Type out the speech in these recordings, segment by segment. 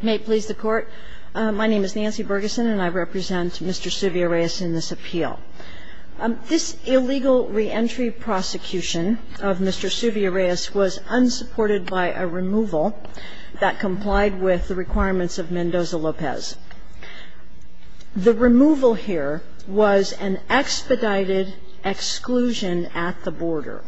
May it please the Court, my name is Nancy Bergeson and I represent Mr. Suvia-Reyes in this appeal. This illegal reentry prosecution of Mr. Suvia-Reyes was unsupported by a removal that complied with the requirements of Mendoza-Lopez. The removal here was an expedited exclusion at the border,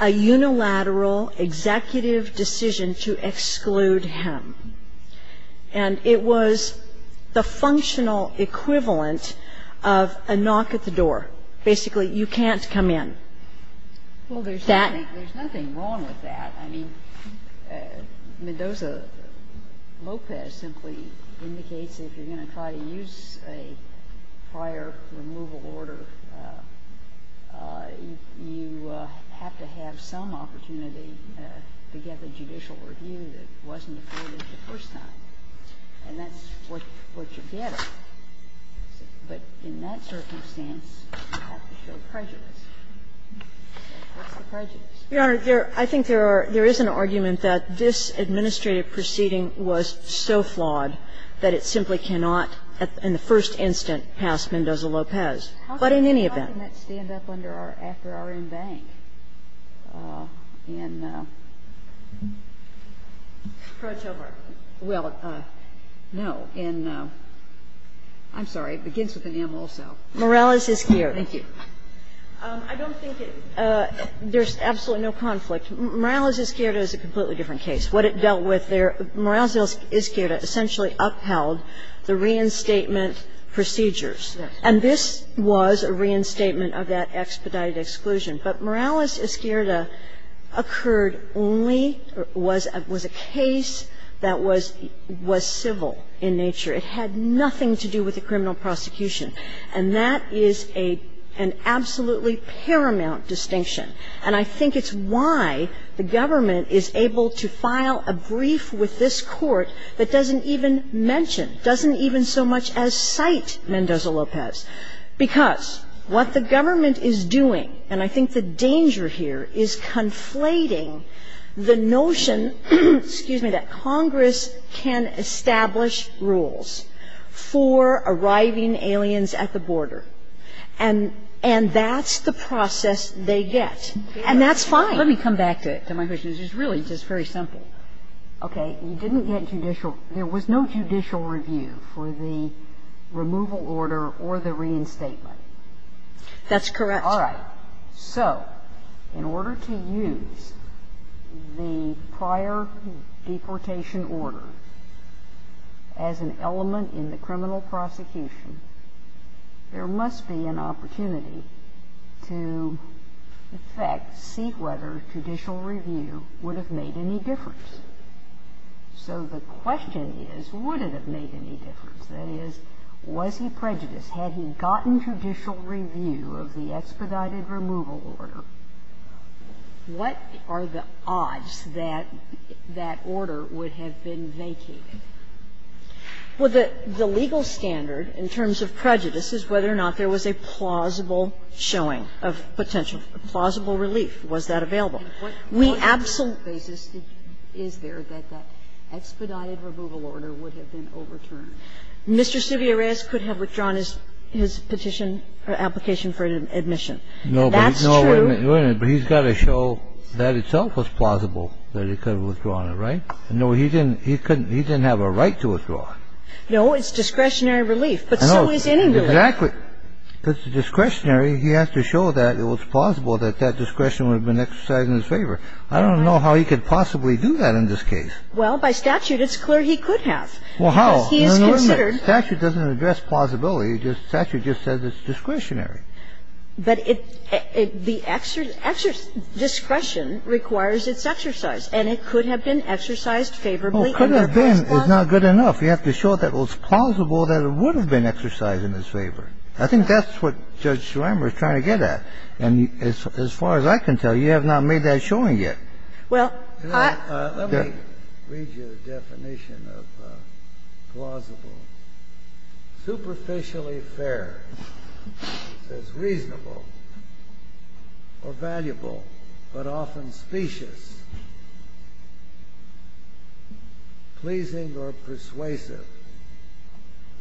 a unilateral executive decision to exclude him. And it was the functional equivalent of a knock at the door. Basically, you can't come in. Well, there's nothing wrong with that. I mean, Mendoza-Lopez simply indicates if you're going to try to use a prior removal order, you have to have some opportunity to get the judicial review that wasn't afforded the first time, and that's what you get. But in that circumstance, you have to show prejudice. What's the prejudice? Your Honor, there – I think there are – there is an argument that this administrative proceeding was so flawed that it simply cannot, in the first instant, pass Mendoza-Lopez. But in any event. How can that stand up under our – after our embank? I'm sorry. It begins with an M also. Morales-Izquierda. Thank you. I don't think it – there's absolutely no conflict. Morales-Izquierda is a completely different case. What it dealt with there – Morales-Izquierda essentially upheld the reinstatement procedures. But Morales-Izquierda is a completely different case. Morales-Izquierda occurred only – was a case that was civil in nature. It had nothing to do with the criminal prosecution. And that is an absolutely paramount distinction. And I think it's why the government is able to file a brief with this Court that doesn't even mention, doesn't even so much as cite Mendoza-Lopez. Because what the government is doing, and I think the danger here, is conflating the notion, excuse me, that Congress can establish rules for arriving aliens at the border. And that's the process they get. And that's fine. Kagan-Let me come back to my question, which is really just very simple. Okay. You didn't get judicial – there was no judicial review for the removal order or the reinstatement. That's correct. All right. So in order to use the prior deportation order as an element in the criminal prosecution, there must be an opportunity to, in fact, see whether judicial review would have made any difference. So the question is, would it have made any difference? That is, was he prejudiced? Had he gotten judicial review of the expedited removal order? What are the odds that that order would have been vacated? Well, the legal standard in terms of prejudice is whether or not there was a plausible showing of potential – plausible relief. Was that available? We absolutely – And what basis is there that that expedited removal order would have been overturned? Mr. Silvia Reyes could have withdrawn his petition or application for admission. That's true. No, but he's got to show that itself was plausible, that he could have withdrawn it, right? No, he didn't – he couldn't – he didn't have a right to withdraw it. No, it's discretionary relief. But so is any relief. Exactly. It's discretionary. He has to show that it was plausible that that discretion would have been exercised in his favor. I don't know how he could possibly do that in this case. Well, by statute, it's clear he could have. Well, how? Because he is considered – No, no, no. Statute doesn't address plausibility. Statute just says it's discretionary. But it – the discretion requires its exercise. And it could have been exercised favorably in the first place. Well, could have been is not good enough. You have to show that it was plausible that it would have been exercised in his favor. I think that's what Judge Schlammer is trying to get at. And as far as I can tell, you have not made that showing yet. Well, I – Let me read you the definition of plausible. Superficially fair. It says reasonable or valuable, but often specious. Pleasing or persuasive,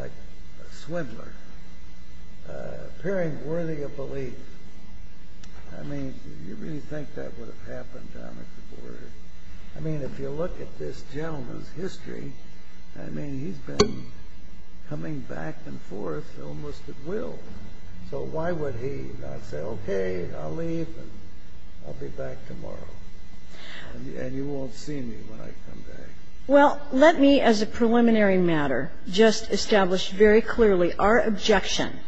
like a swindler. Appearing worthy of belief. I mean, do you really think that would have happened down at the border? I mean, if you look at this gentleman's history, I mean, he's been coming back and forth almost at will. So why would he not say, okay, I'll leave and I'll be back tomorrow, and you won't see me when I come back? Well, let me, as a preliminary matter, just establish very clearly our objection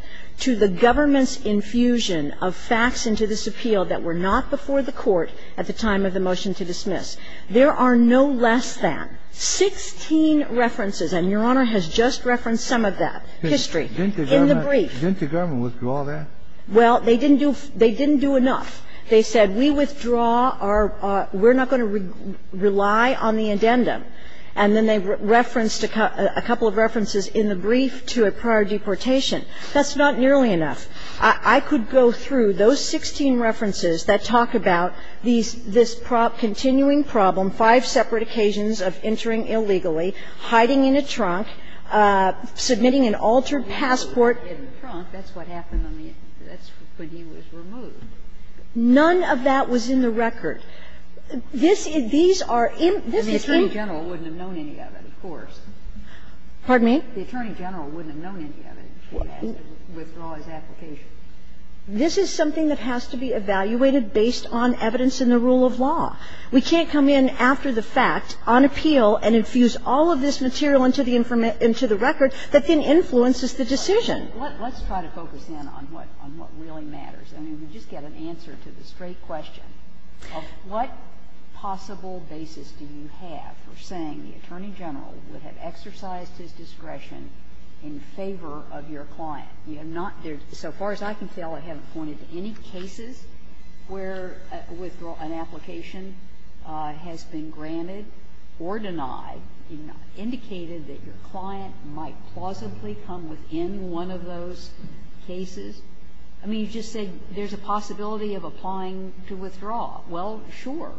to the government's infusion of facts into this appeal that were not before the court at the time of the motion to dismiss. There are no less than 16 references, and Your Honor has just referenced some of that, history, in the brief. Didn't the government withdraw that? Well, they didn't do – they didn't do enough. They said we withdraw our – we're not going to rely on the addendum. And then they referenced a couple of references in the brief to a prior deportation. That's not nearly enough. I could go through those 16 references that talk about these – this continuing problem, five separate occasions of entering illegally, hiding in a trunk, submitting an altered passport. That's what happened on the – that's when he was removed. None of that was in the record. This – these are in – this is in – And the Attorney General wouldn't have known any of it, of course. Pardon me? The Attorney General wouldn't have known any of it. He would have had to withdraw his application. This is something that has to be evaluated based on evidence in the rule of law. We can't come in after the fact on appeal and infuse all of this material into the – into the record that then influences the decision. Let's try to focus in on what – on what really matters. I mean, we just get an answer to the straight question of what possible basis do you have for saying the Attorney General would have exercised his discretion in favor of your client? You have not – so far as I can tell, I haven't pointed to any cases where an application has been granted or denied, indicated that your client might plausibly come within one of those cases. I mean, you just said there's a possibility of applying to withdraw. Well, sure.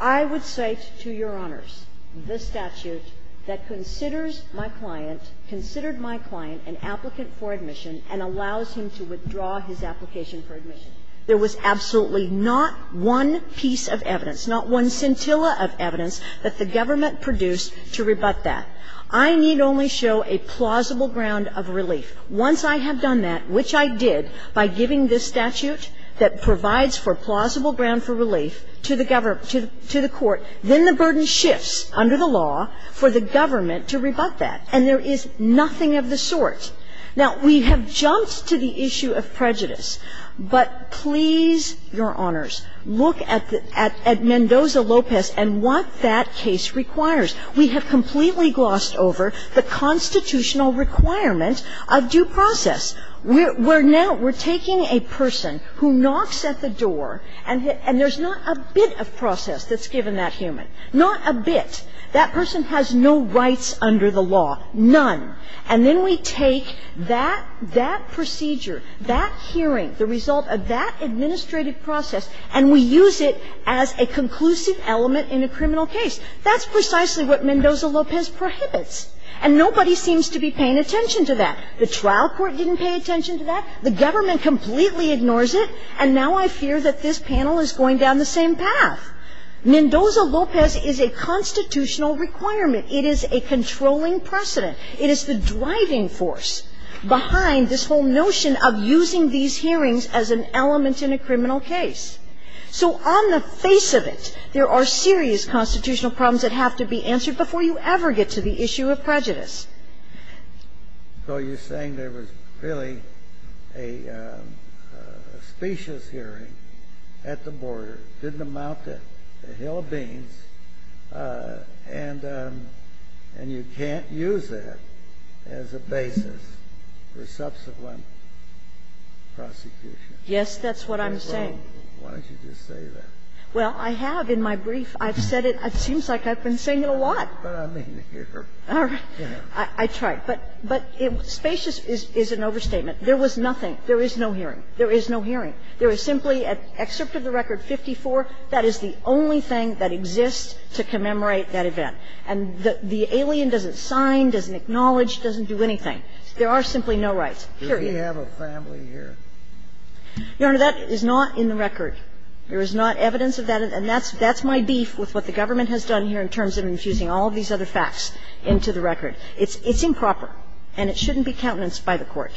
I would cite to Your Honors the statute that considers my client, considered my client an applicant for admission and allows him to withdraw his application for admission. There was absolutely not one piece of evidence, not one scintilla of evidence that the government produced to rebut that. I need only show a plausible ground of relief. Once I have done that, which I did by giving this statute that provides for plausible ground for relief to the government – to the court, then the burden shifts under the law for the government to rebut that. And there is nothing of the sort. Now, we have jumped to the issue of prejudice, but please, Your Honors, look at the – at Mendoza-Lopez and what that case requires. We have completely glossed over the constitutional requirement of due process. We're now – we're taking a person who knocks at the door and there's not a bit of process that's given that human, not a bit. That person has no rights under the law, none. And then we take that procedure, that hearing, the result of that administrative process, and we use it as a conclusive element in a criminal case. That's precisely what Mendoza-Lopez prohibits. And nobody seems to be paying attention to that. The trial court didn't pay attention to that. The government completely ignores it. And now I fear that this panel is going down the same path. Mendoza-Lopez is a constitutional requirement. It is a controlling precedent. It is the driving force behind this whole notion of using these hearings as an element in a criminal case. So on the face of it, there are serious constitutional problems that have to be answered before you ever get to the issue of prejudice. So you're saying there was really a specious hearing at the border, didn't amount to a hill of beans, and you can't use that as a basis for subsequent prosecution? Yes, that's what I'm saying. Why don't you just say that? Well, I have in my brief. I've said it. It seems like I've been saying it a lot. But I mean, you're, you know. I tried. But the specious is an overstatement. There was nothing. There is no hearing. There is no hearing. There is simply an excerpt of the record 54. That is the only thing that exists to commemorate that event. And the alien doesn't sign, doesn't acknowledge, doesn't do anything. There are simply no rights, period. Do we have a family here? Your Honor, that is not in the record. There is not evidence of that. And that's my beef with what the government has done here in terms of infusing all of these other facts into the record. It's improper. And it shouldn't be countenanced by the Court.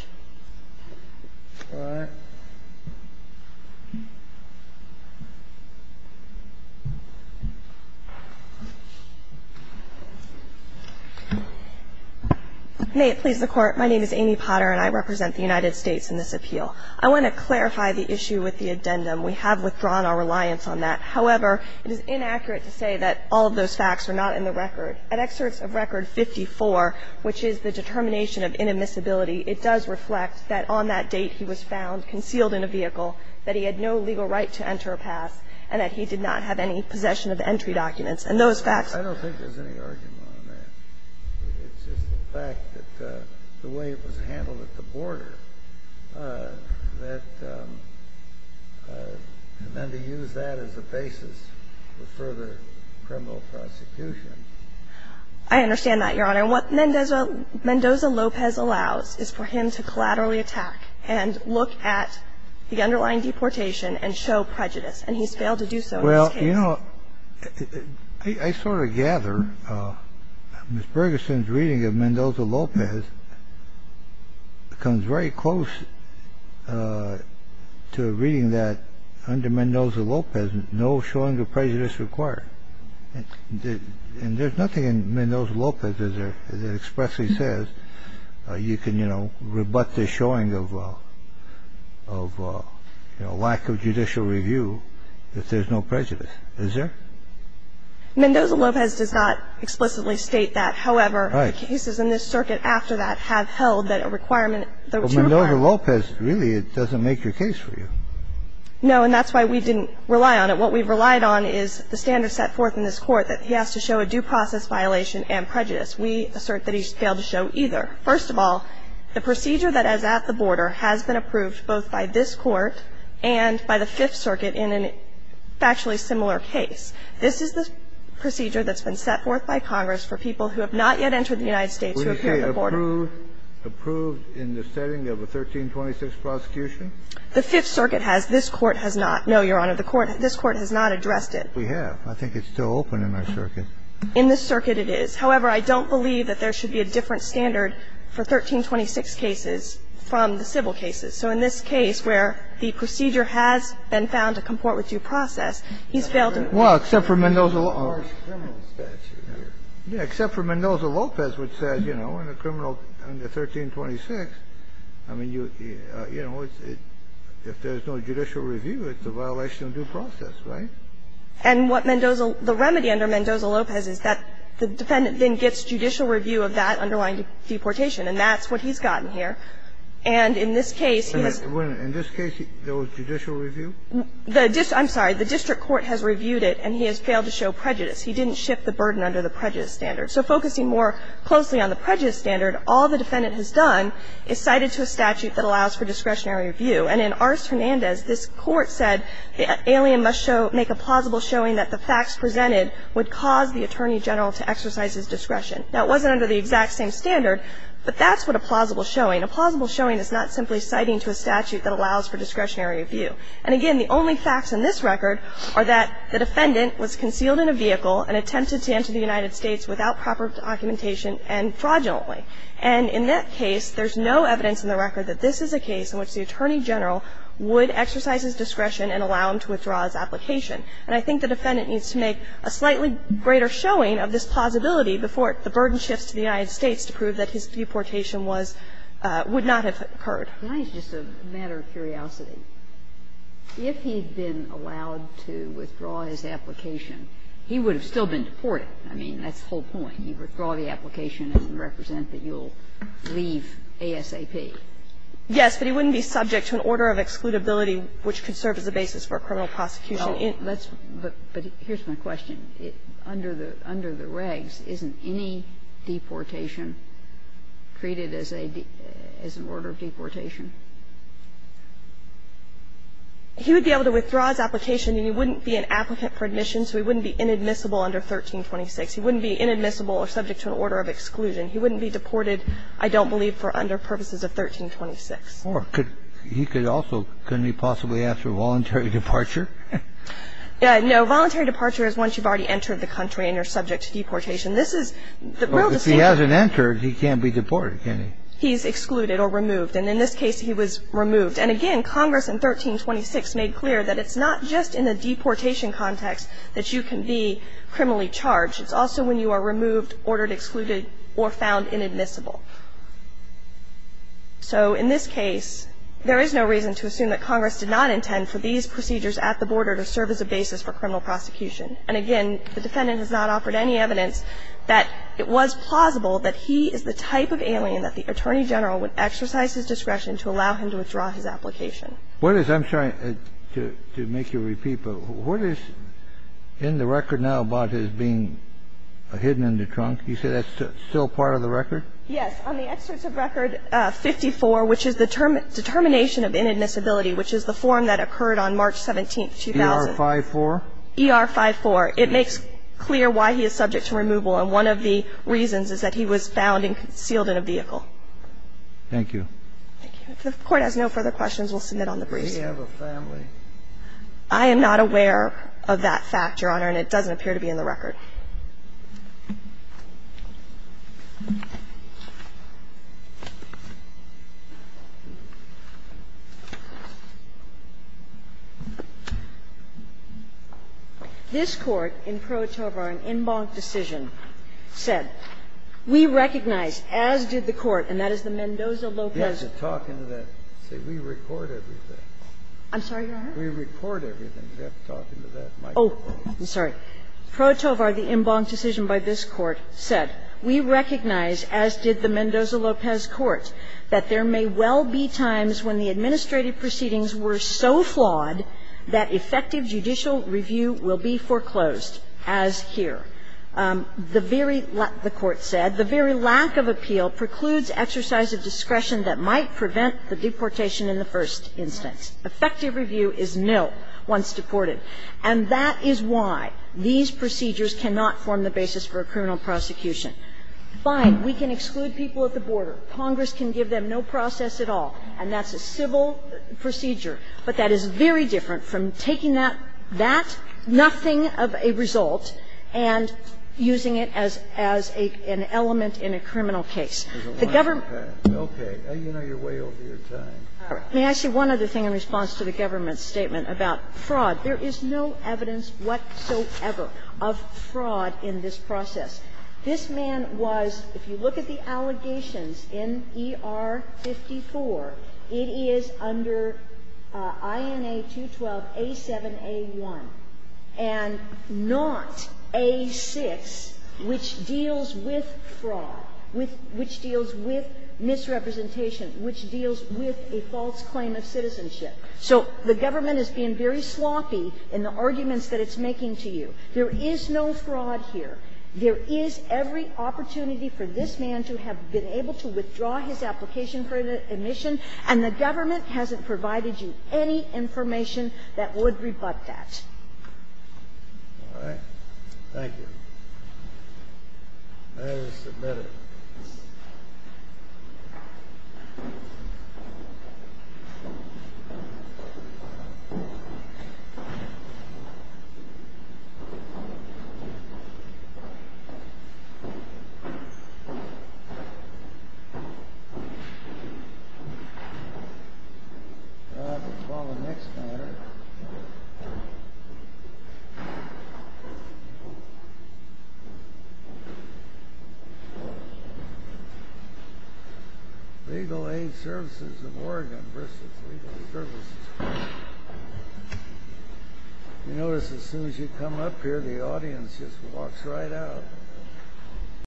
May it please the Court. My name is Amy Potter, and I represent the United States in this appeal. I want to clarify the issue with the addendum. We have withdrawn our reliance on that. However, it is inaccurate to say that all of those facts are not in the record. An excerpt of record 54, which is the determination of inadmissibility, it does reflect that on that date he was found concealed in a vehicle, that he had no legal right to enter a pass, and that he did not have any possession of entry documents. And those facts are not in the record. I understand that, Your Honor. And what Mendoza-Lopez allows is for him to collaterally attack and look at the underlying deportation and show prejudice. And he's failed to do so in this case. Well, you know, I sort of gather Ms. Bergeson's reading of Mendoza-Lopez comes very close to a reading that under Mendoza-Lopez, no showing of prejudice required. And there's nothing in Mendoza-Lopez that expressly says you can, you know, rebut the showing of lack of judicial review if there's no prejudice. Is there? Mendoza-Lopez does not explicitly state that. Right. However, the cases in this circuit after that have held that a requirement to require. But Mendoza-Lopez really doesn't make your case for you. No, and that's why we didn't rely on it. What we've relied on is the standards set forth in this Court that he has to show a due process violation and prejudice. We assert that he's failed to show either. First of all, the procedure that is at the border has been approved both by this Court and by the Fifth Circuit in a factually similar case. This is the procedure that's been set forth by Congress for people who have not yet entered the United States who appear at the border. Approved in the setting of a 1326 prosecution? The Fifth Circuit has. This Court has not. No, Your Honor, this Court has not addressed it. We have. I think it's still open in our circuit. In this circuit it is. However, I don't believe that there should be a different standard for 1326 cases from the civil cases. So in this case where the procedure has been found to comport with due process, he's failed to do so. Well, except for Mendoza. Yeah. Except for Mendoza-Lopez, which says, you know, in a criminal under 1326, I mean, you know, if there's no judicial review, it's a violation of due process, right? And what Mendoza the remedy under Mendoza-Lopez is that the defendant then gets judicial review of that underlying deportation, and that's what he's gotten here. And in this case, he has. In this case, there was judicial review? I'm sorry. The district court has reviewed it, and he has failed to show prejudice. He didn't shift the burden under the prejudice standard. So focusing more closely on the prejudice standard, all the defendant has done is cited to a statute that allows for discretionary review. And in Ars Hernandez, this Court said the alien must make a plausible showing that the facts presented would cause the attorney general to exercise his discretion. Now, it wasn't under the exact same standard, but that's what a plausible showing. A plausible showing is not simply citing to a statute that allows for discretionary review. And again, the only facts in this record are that the defendant was concealed in a vehicle and attempted to enter the United States without proper documentation and fraudulently. And in that case, there's no evidence in the record that this is a case in which the attorney general would exercise his discretion and allow him to withdraw his application. And I think the defendant needs to make a slightly greater showing of this plausibility before the burden shifts to the United States to prove that his deportation was – would not have occurred. Kagan's just a matter of curiosity. If he'd been allowed to withdraw his application, he would have still been deported. I mean, that's the whole point. You withdraw the application, it doesn't represent that you'll leave ASAP. Yes, but he wouldn't be subject to an order of excludability which could serve as a basis for a criminal prosecution in the United States. But here's my question. Under the regs, isn't any deportation treated as a – as an order of deportation if he withdrew his application? He would be able to withdraw his application, and he wouldn't be an applicant for admission, so he wouldn't be inadmissible under 1326. He wouldn't be inadmissible or subject to an order of exclusion. He wouldn't be deported, I don't believe, for under purposes of 1326. Or he could also – couldn't he possibly ask for a voluntary departure? No. Voluntary departure is once you've already entered the country and you're subject to deportation. This is the real distinction. But if he hasn't entered, he can't be deported, can he? He's excluded or removed. And in this case, he was removed. And again, Congress in 1326 made clear that it's not just in the deportation context that you can be criminally charged. It's also when you are removed, ordered excluded, or found inadmissible. So in this case, there is no reason to assume that Congress did not intend for these procedures at the border to serve as a basis for criminal prosecution. And again, the defendant has not offered any evidence that it was plausible that he is the type of alien that the Attorney General would exercise his discretion to allow him to withdraw his application. What is – I'm sorry to make you repeat, but what is in the record now about his being hidden in the trunk? You say that's still part of the record? Yes. On the excerpt of record 54, which is the determination of inadmissibility, which is the form that occurred on March 17, 2000. ER-54. It makes clear why he is subject to removal. And one of the reasons is that he was found and sealed in a vehicle. Thank you. If the Court has no further questions, we'll submit on the briefs. Does he have a family? I am not aware of that fact, Your Honor, and it doesn't appear to be in the record. This Court in Pro Tovar, an en banc decision, said, we recognize, as did the Court, and that is the Mendoza-Lopez. You have to talk into that. See, we record everything. I'm sorry, Your Honor? We record everything. Oh, I'm sorry. Pro Tovar, the en banc decision by this Court, said, We recognize, as did the Mendoza-Lopez Court, that there may well be times when the administrative proceedings were so flawed that effective judicial review will be foreclosed, as here. The very lack, the Court said, The very lack of appeal precludes exercise of discretion that might prevent the deportation in the first instance. Effective review is nil once deported. And that is why these procedures cannot form the basis for a criminal prosecution. Fine. We can exclude people at the border. Congress can give them no process at all, and that's a civil procedure. But that is very different from taking that, that, nothing of a result, and using it as an element in a criminal case. The government May I say one other thing in response to the government's statement about fraud? There is no evidence whatsoever of fraud in this process. This man was, if you look at the allegations in ER 54, it is under INA 212A7A1 and not A6, which deals with fraud, which deals with misrepresentation, which deals with a false claim of citizenship. So the government is being very sloppy in the arguments that it's making to you. There is no fraud here. There is every opportunity for this man to have been able to withdraw his application for admission, and the government hasn't provided you any information that would rebut that. All right? Thank you. May we submit it? All right. We'll call the next matter. Legal Aid Services of Oregon versus Legal Services. You notice as soon as you come up here, the audience just walks right out.